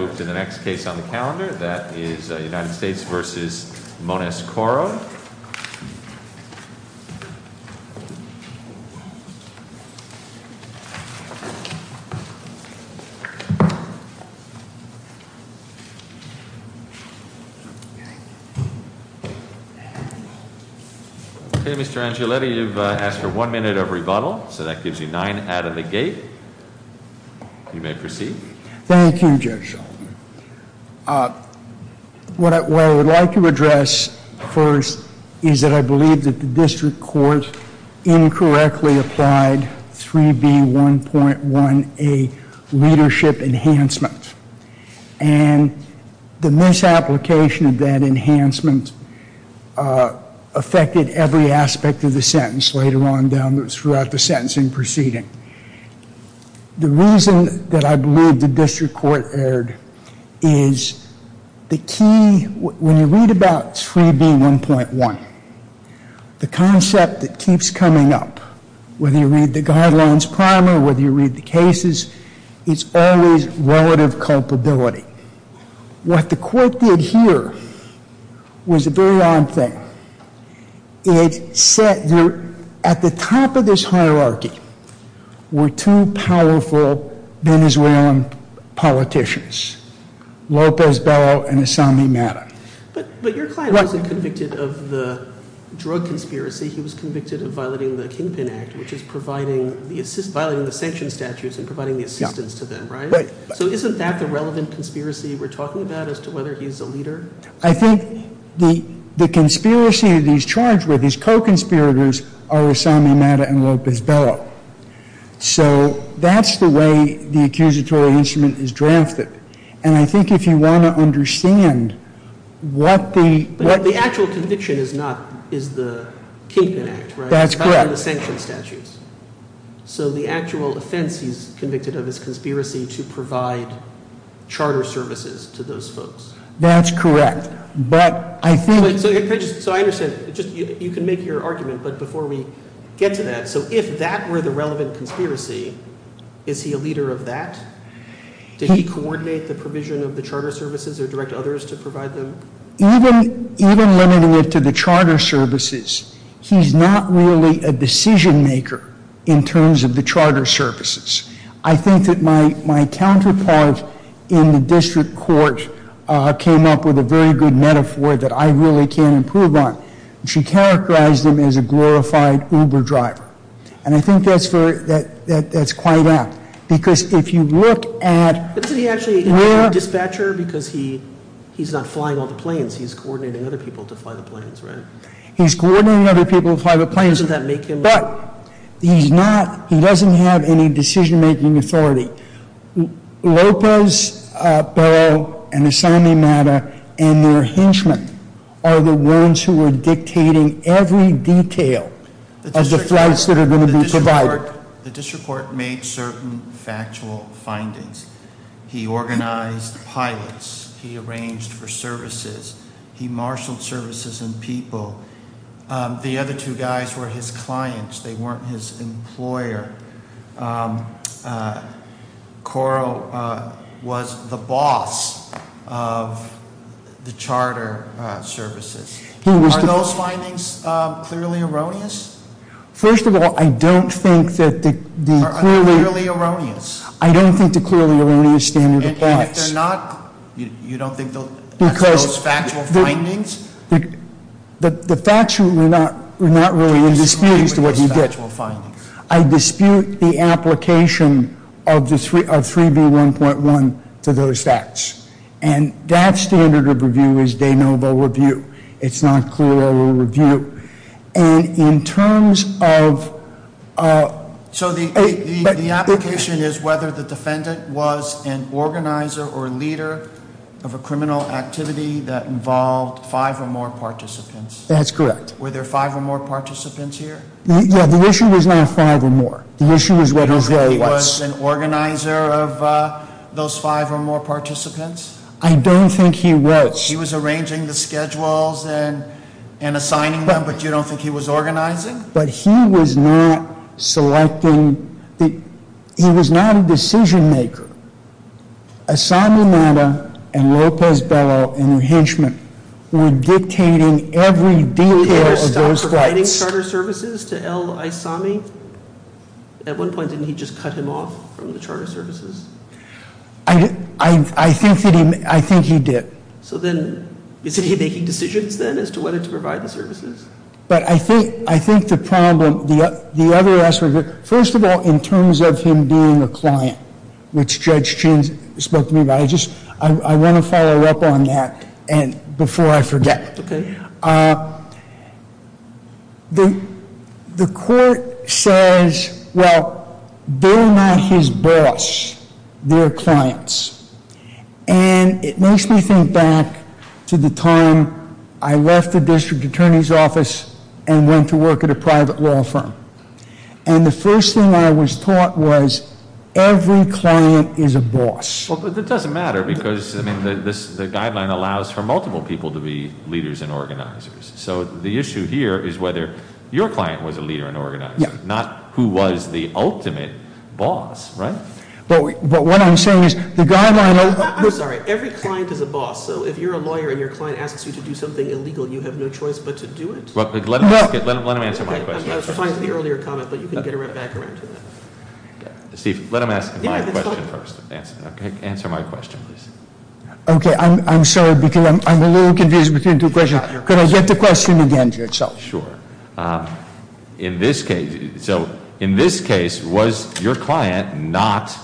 Okay, Mr. Angioletti, you've asked for one minute of rebuttal, so that gives you nine out of the gate. You may proceed. Thank you, Judge. What I would like to address first is that I believe that the district court incorrectly applied 3B1.1A, leadership enhancement, and the misapplication of that enhancement affected every aspect of the sentence later on down throughout the sentencing proceeding. The reason that I believe the district court erred is the key, when you read about 3B1.1, the concept that keeps coming up, whether you read the guidelines primer, whether you read the cases, it's always relative culpability. What the court did here was a very odd thing. It said that at the top of this hierarchy were two powerful Venezuelan politicians, Lopez Bello and Assami Madden. But your client wasn't convicted of the drug conspiracy, he was convicted of violating the Kinpin Act, which is violating the sanction statutes and providing the assistance to them, right? So isn't that the relevant conspiracy we're talking about as to whether he's a leader? I think the conspiracy that he's charged with, his co-conspirators, are Assami Madden and Lopez Bello. So that's the way the accusatory instrument is drafted. And I think if you want to understand what the- But the actual conviction is the Kinpin Act, right? That's correct. It's violating the sanction statutes. So the actual offense he's convicted of is conspiracy to provide charter services to those folks. That's correct, but I think- So I understand, you can make your argument, but before we get to that, so if that were the relevant conspiracy, is he a leader of that? Did he coordinate the provision of the charter services or direct others to provide them? Even limiting it to the charter services, he's not really a decision maker in terms of the charter services. I think that my counterpart in the district court came up with a very good metaphor that I really can't improve on. She characterized him as a glorified Uber driver. And I think that's quite apt, because if you look at- But is he actually a dispatcher, because he's not flying all the planes, he's coordinating other people to fly the planes, right? He's coordinating other people to fly the planes, but he's not, he doesn't have any decision making authority. Lopez, Barrow, and Asami Mata and their henchmen are the ones who are dictating every detail of the flights that are going to be provided. The district court made certain factual findings. He organized pilots, he arranged for services, he marshaled services and people. The other two guys were his clients, they weren't his employer. Coro was the boss of the charter services. Are those findings clearly erroneous? First of all, I don't think that the clearly- Are they clearly erroneous? I don't think the clearly erroneous standard applies. And if they're not, you don't think that's those factual findings? The facts were not really in dispute as to what you get. I dispute the application of 3B1.1 to those facts. And that standard of review is de novo review. It's not clearly a review. And in terms of- So the application is whether the defendant was an organizer or a leader of a criminal activity that involved five or more participants. That's correct. Were there five or more participants here? Yeah, the issue was not five or more. The issue was what his role was. You don't think he was an organizer of those five or more participants? I don't think he was. He was arranging the schedules and assigning them, but you don't think he was organizing? But he was not selecting, he was not a decision maker. Assami Madda and Lopez Bello and Hinchman were dictating every detail of those rights. Did he ever stop providing charter services to El Aissami? At one point, didn't he just cut him off from the charter services? I think he did. So then, is he making decisions then as to whether to provide the services? But I think the problem, the other aspect of it, first of all, in terms of him being a client, which Judge Chin spoke to me about, I want to follow up on that before I forget. Okay. The court says, well, they're not his boss, they're clients. And it makes me think back to the time I left the district attorney's office and went to work at a private law firm. And the first thing I was taught was, every client is a boss. Well, that doesn't matter, because the guideline allows for multiple people to be leaders and organizers. So the issue here is whether your client was a leader and organizer, not who was the ultimate boss, right? But what I'm saying is, the guideline- I'm sorry, every client is a boss, so if you're a lawyer and your client asks you to do something illegal, you have no choice but to do it? Let him answer my question. I'm sorry for the earlier comment, but you can get right back around to that. Steve, let him ask my question first, okay? Answer my question, please. Okay, I'm sorry, because I'm a little confused between two questions. Can I get the question again? Sure. In this case, so in this case, was your client not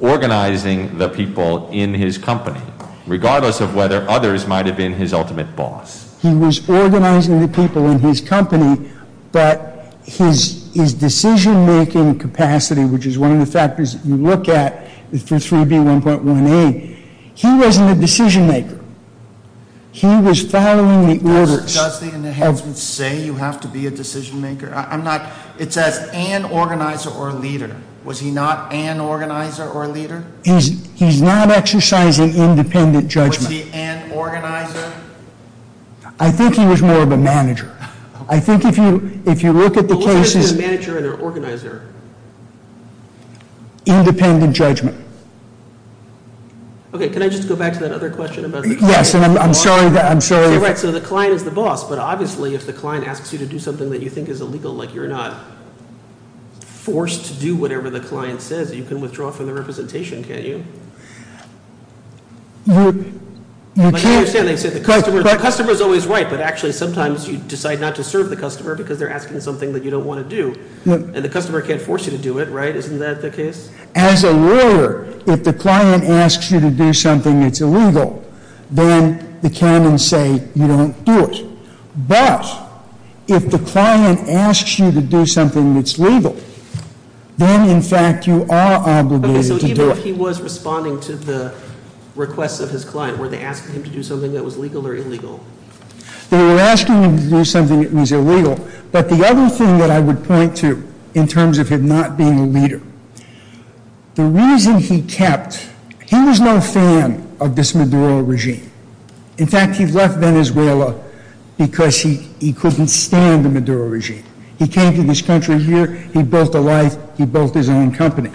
organizing the people in his company? Regardless of whether others might have been his ultimate boss. He was organizing the people in his company, but his decision making capacity, which is one of the factors you look at for 3B1.18, he wasn't a decision maker. He was following the orders of- Sir, does the enhancement say you have to be a decision maker? I'm not, it says an organizer or a leader. Was he not an organizer or a leader? He's not exercising independent judgment. Was he an organizer? I think he was more of a manager. I think if you look at the cases- What was the difference between a manager and an organizer? Independent judgment. Okay, can I just go back to that other question about the client? Yes, and I'm sorry that, I'm sorry- You're right, so the client is the boss, but obviously if the client asks you to do something that you think is illegal, like you're not forced to do whatever the client says, you can withdraw from the representation, can't you? You can't- But I understand, they say the customer's always right, but actually sometimes you decide not to serve the customer because they're asking something that you don't want to do. And the customer can't force you to do it, right? Isn't that the case? As a lawyer, if the client asks you to do something that's illegal, then the canons say you don't do it. But if the client asks you to do something that's legal, then in fact you are obligated to do it. Okay, so even if he was responding to the requests of his client, were they asking him to do something that was legal or illegal? They were asking him to do something that was illegal. But the other thing that I would point to in terms of him not being a leader, the reason he kept, he was no fan of this Maduro regime. In fact, he left Venezuela because he couldn't stand the Maduro regime. He came to this country here, he built a life, he built his own company.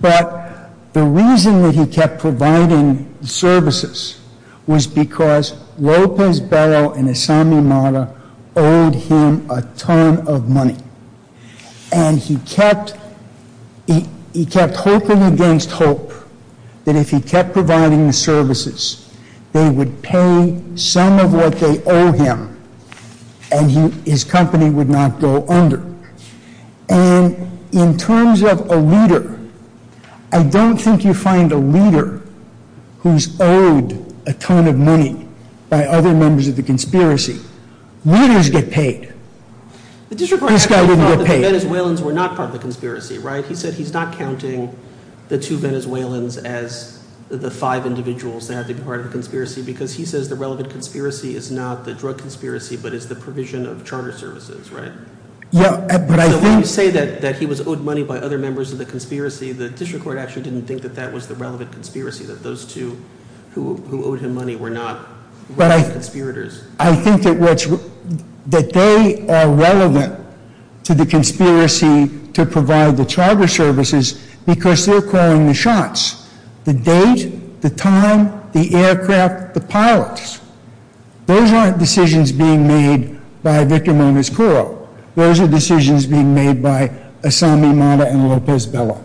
But the reason that he kept providing services was because Lopez Barro and Asami Mata owed him a ton of money. And he kept hoping against hope that if he kept providing the services, they would pay some of what they owe him and his company would not go under. And in terms of a leader, I don't think you find a leader who's owed a ton of money by other members of the conspiracy. Leaders get paid, this guy wouldn't get paid. The district court actually thought that the Venezuelans were not part of the conspiracy, right? He said he's not counting the two Venezuelans as the five individuals that have to be part of the conspiracy, because he says the relevant conspiracy is not the drug conspiracy, but it's the provision of charter services, right? Yeah, but I think- So when you say that he was owed money by other members of the conspiracy, the district court actually didn't think that that was the relevant conspiracy, that those two who owed him money were not conspirators. I think that they are relevant to the conspiracy to provide the charter services because they're calling the shots. The date, the time, the aircraft, the pilots. Those aren't decisions being made by Victor Moniz-Curro. Those are decisions being made by Asami Mata and Lopez Bella.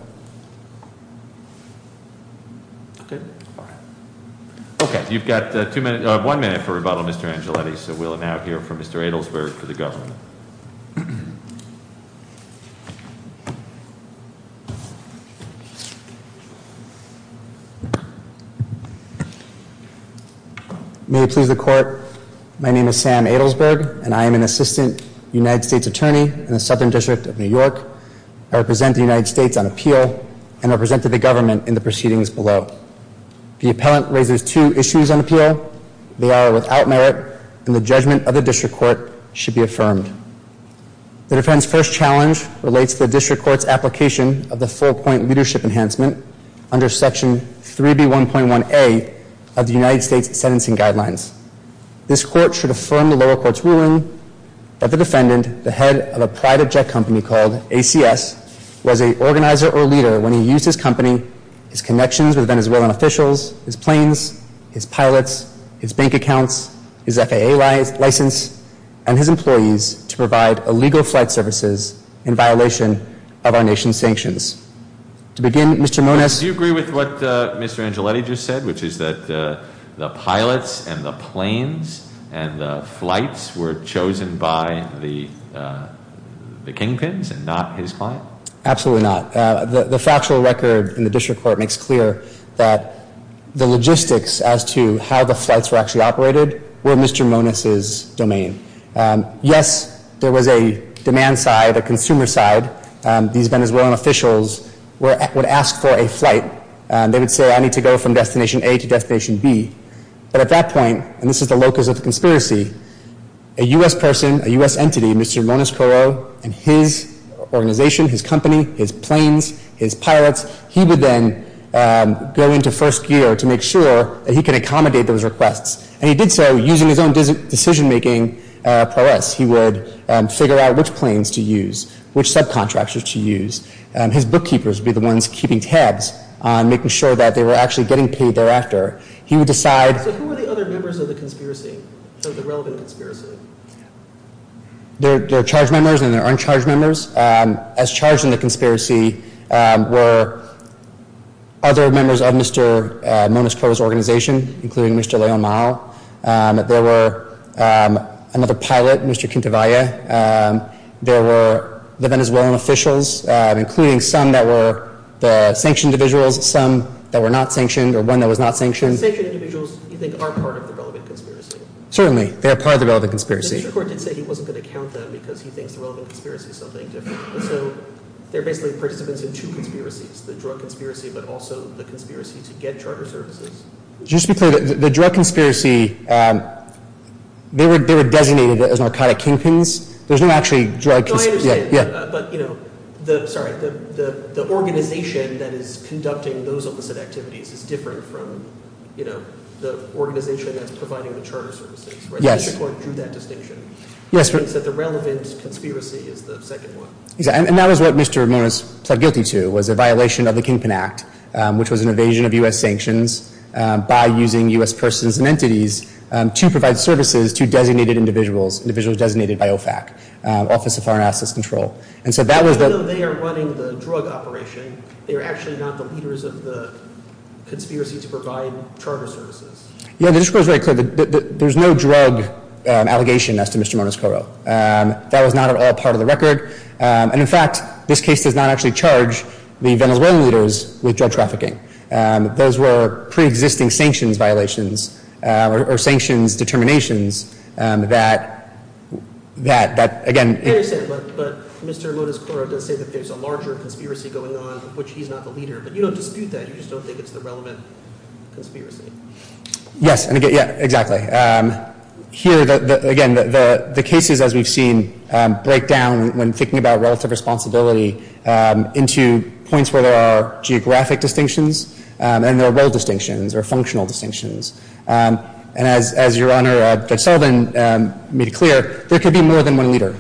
Okay, you've got one minute for rebuttal, Mr. Angeletti. So we'll now hear from Mr. Adelsberg for the government. May it please the court, my name is Sam Adelsberg and I am an assistant United States attorney in the Southern District of New York. I represent the United States on appeal and represent the government in the proceedings below. The appellant raises two issues on appeal, they are without merit, and the judgment of the district court should be affirmed. The defense first challenge relates to the district court's application of the full point leadership enhancement under section 3B1.1A of the United States sentencing guidelines. This court should affirm the lower court's ruling that the defendant, the head of a private jet company called ACS, was a organizer or leader when he used his company, his connections with Venezuelan officials, his planes, his pilots, his bank accounts, his FAA license, and his employees to provide illegal flight services in violation of our nation's sanctions. To begin, Mr. Moniz- Do you agree with what Mr. Angeletti just said, which is that the pilots and the planes and the flights were chosen by the kingpins and not his client? Absolutely not. The factual record in the district court makes clear that the logistics as to how the flights were actually operated were Mr. Moniz's domain. Yes, there was a demand side, a consumer side. These Venezuelan officials would ask for a flight. They would say, I need to go from destination A to destination B. But at that point, and this is the locus of the conspiracy, a US person, a US entity, Mr. Moniz-Corot and his organization, his company, his planes, his pilots, he would then go into first gear to make sure that he can accommodate those requests. And he did so using his own decision making prowess. He would figure out which planes to use, which subcontractors to use. His bookkeepers would be the ones keeping tabs on making sure that they were actually getting paid thereafter. He would decide- So who were the other members of the conspiracy, of the relevant conspiracy? They're charged members and they're uncharged members. As charged in the conspiracy were other members of Mr. Moniz-Corot's organization, including Mr. Leon Mao. There were another pilot, Mr. Quintanilla. There were the Venezuelan officials, including some that were the sanctioned individuals, some that were not sanctioned, or one that was not sanctioned. Sanctioned individuals, you think, are part of the relevant conspiracy? Certainly. They are part of the relevant conspiracy. Mr. Moniz-Corot did say he wasn't going to count them because he thinks the relevant conspiracy is something different. So they're basically participants in two conspiracies, the drug conspiracy, but also the conspiracy to get charter services. Just to be clear, the drug conspiracy, they were designated as narcotic kingpins. There's no actually drug conspiracy. But the organization that is conducting those illicit activities is different from the organization that's providing the charter services. Mr. Moniz-Corot drew that distinction. He said the relevant conspiracy is the second one. And that was what Mr. Moniz pled guilty to, was a violation of the Kingpin Act, which was an evasion of U.S. sanctions by using U.S. persons and entities to provide services to designated individuals, individuals designated by OFAC, Office of Foreign Assets Control. Even though they are running the drug operation, they're actually not the leaders of the conspiracy to provide charter services. Yeah, just to be very clear, there's no drug allegation as to Mr. Moniz-Corot. That was not at all part of the record. And in fact, this case does not actually charge the Venezuelan leaders with drug trafficking. Those were pre-existing sanctions violations or sanctions determinations that, again... Yeah, you said it, but Mr. Moniz-Corot does say that there's a larger conspiracy going on, of which he's not the leader. But you don't dispute that. You just don't think it's the relevant conspiracy. Yes, exactly. Here, again, the cases, as we've seen, break down when thinking about relative responsibility into points where there are geographic distinctions and there are role distinctions or functional distinctions. And as Your Honor Judge Sullivan made clear, there could be more than one leader.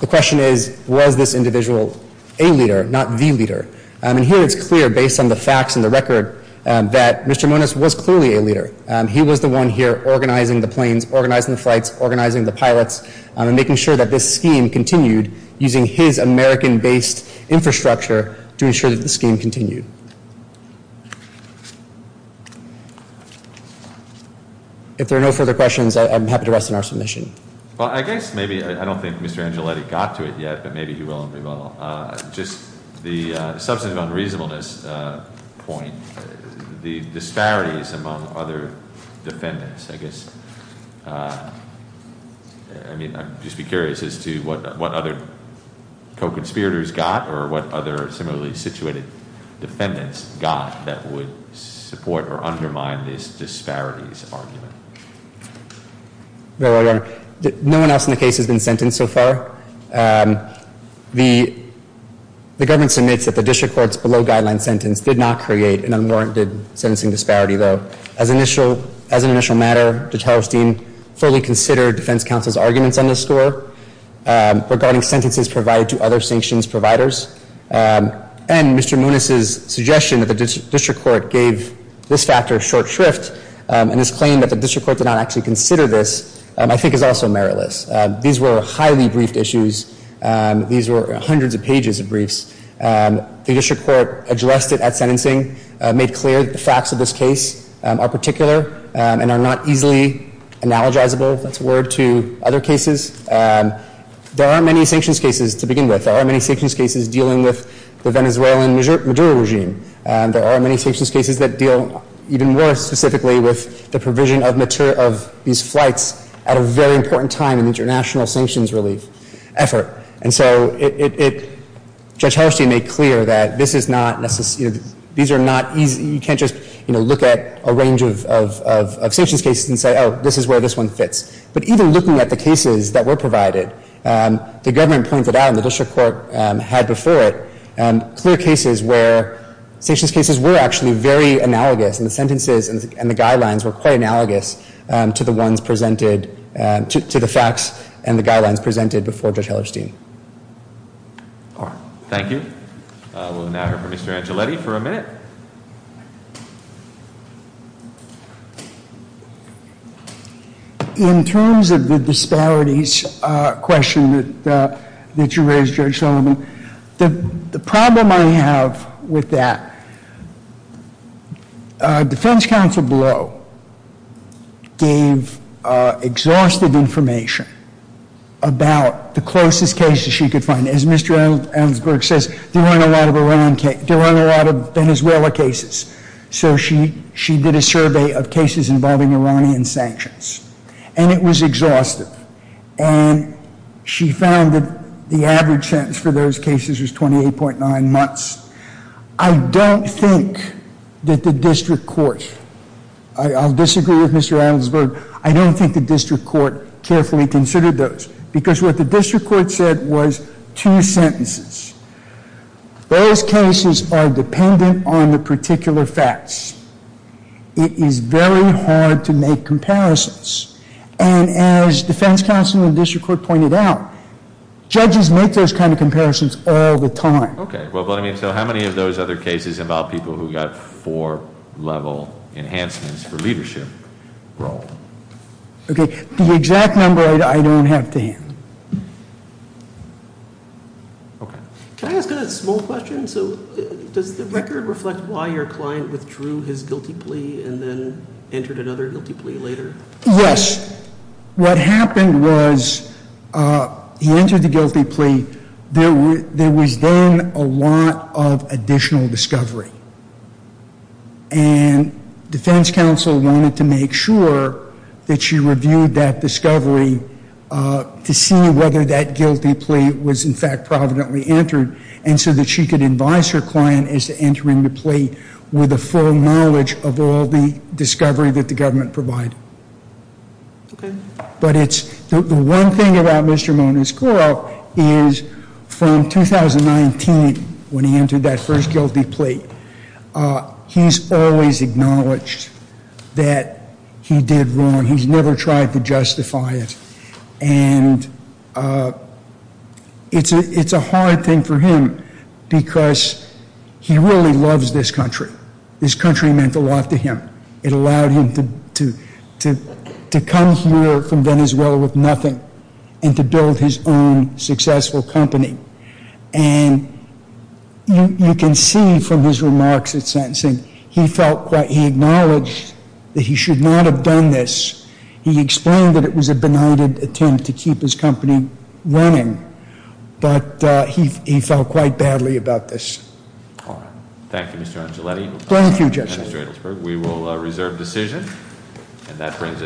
The question is, was this individual a leader, not the leader? And here it's clear, based on the facts and the record, that Mr. Moniz was clearly a leader. He was the one here organizing the planes, organizing the flights, organizing the pilots, and making sure that this scheme continued using his American-based infrastructure to ensure that the scheme continued. If there are no further questions, I'm happy to rest on our submission. Well, I guess maybe I don't think Mr. Angeletti got to it yet, but maybe he will and we will. Just the substantive unreasonableness point, the disparities among other defendants, I guess. I mean, I'd just be curious as to what other co-conspirators got or what other similarly situated defendants got that would support or undermine this disparities argument. Your Honor, no one else in the case has been sentenced so far. The government submits that the district court's below-guideline sentence did not create an unwarranted sentencing disparity, though. As an initial matter, Judge Hellerstein fully considered defense counsel's arguments on this score regarding sentences provided to other sanctions providers. And Mr. Moniz's suggestion that the district court gave this factor short shrift and his claim that the district court did not actually consider this, I think is also meritless. These were highly briefed issues. These were hundreds of pages of briefs. The district court addressed it at sentencing, made clear that the facts of this case are particular and are not easily analogizable, if that's a word, to other cases. There aren't many sanctions cases to begin with. There aren't many sanctions cases dealing with the Venezuelan Maduro regime. There aren't many sanctions cases that deal even more specifically with the provision of these flights at a very important time in international sanctions relief effort. And so it, it, it, Judge Hellerstein made clear that this is not necessary, these are not easy, you can't just, you know, look at a range of, of, of sanctions cases and say, oh, this is where this one fits. But even looking at the cases that were provided, the government pointed out, and the district court had before it, clear cases where sanctions cases were actually very analogous, and the sentences and the guidelines were quite analogous to the ones presented, to, to the facts and the guidelines presented before Judge Hellerstein. All right. Thank you. We'll now hear from Mr. Angeletti for a minute. In terms of the disparities question that, that you raised, Judge Sullivan, the, the problem I have with that, defense counsel Blow gave exhaustive information about the closest cases she could find. As Mr. Ellsberg says, there aren't a lot of Iran cases, there aren't a lot of Venezuela cases. So she, she did a survey of cases involving Iranian sanctions. And it was exhaustive. And she found that the average sentence for those cases was 28.9 months. I don't think that the district court, I, I'll disagree with Mr. Ellsberg, I don't think the district court carefully considered those. Because what the district court said was two sentences. Those cases are dependent on the particular facts. It is very hard to make comparisons. And as defense counsel in the district court pointed out, judges make those kind of comparisons all the time. Okay. Well, but I mean, so how many of those other cases involve people who got four level enhancements for leadership role? Okay. The exact number I, I don't have to hand. Okay. Can I ask a small question? So does the record reflect why your client withdrew his guilty plea and then entered another guilty plea later? Yes. What happened was he entered the guilty plea. There was then a lot of additional discovery. And defense counsel wanted to make sure that she reviewed that discovery to see whether that guilty plea was in fact providently entered. And so that she could advise her client as to entering the plea with the full knowledge of all the discovery that the government provided. Okay. But it's, the one thing about Mr. Moniz-Gorel is from 2019 when he entered that first guilty plea, he's always acknowledged that he did wrong. He's never tried to justify it. And it's a hard thing for him because he really loves this country. This country meant a lot to him. It allowed him to come here from Venezuela with nothing and to build his own successful company. And you can see from his remarks at sentencing, he felt quite, he acknowledged that he should not have done this. He explained that it was a benighted attempt to keep his company running. But he felt quite badly about this. All right. Thank you Mr. Angeletti. Thank you Judge.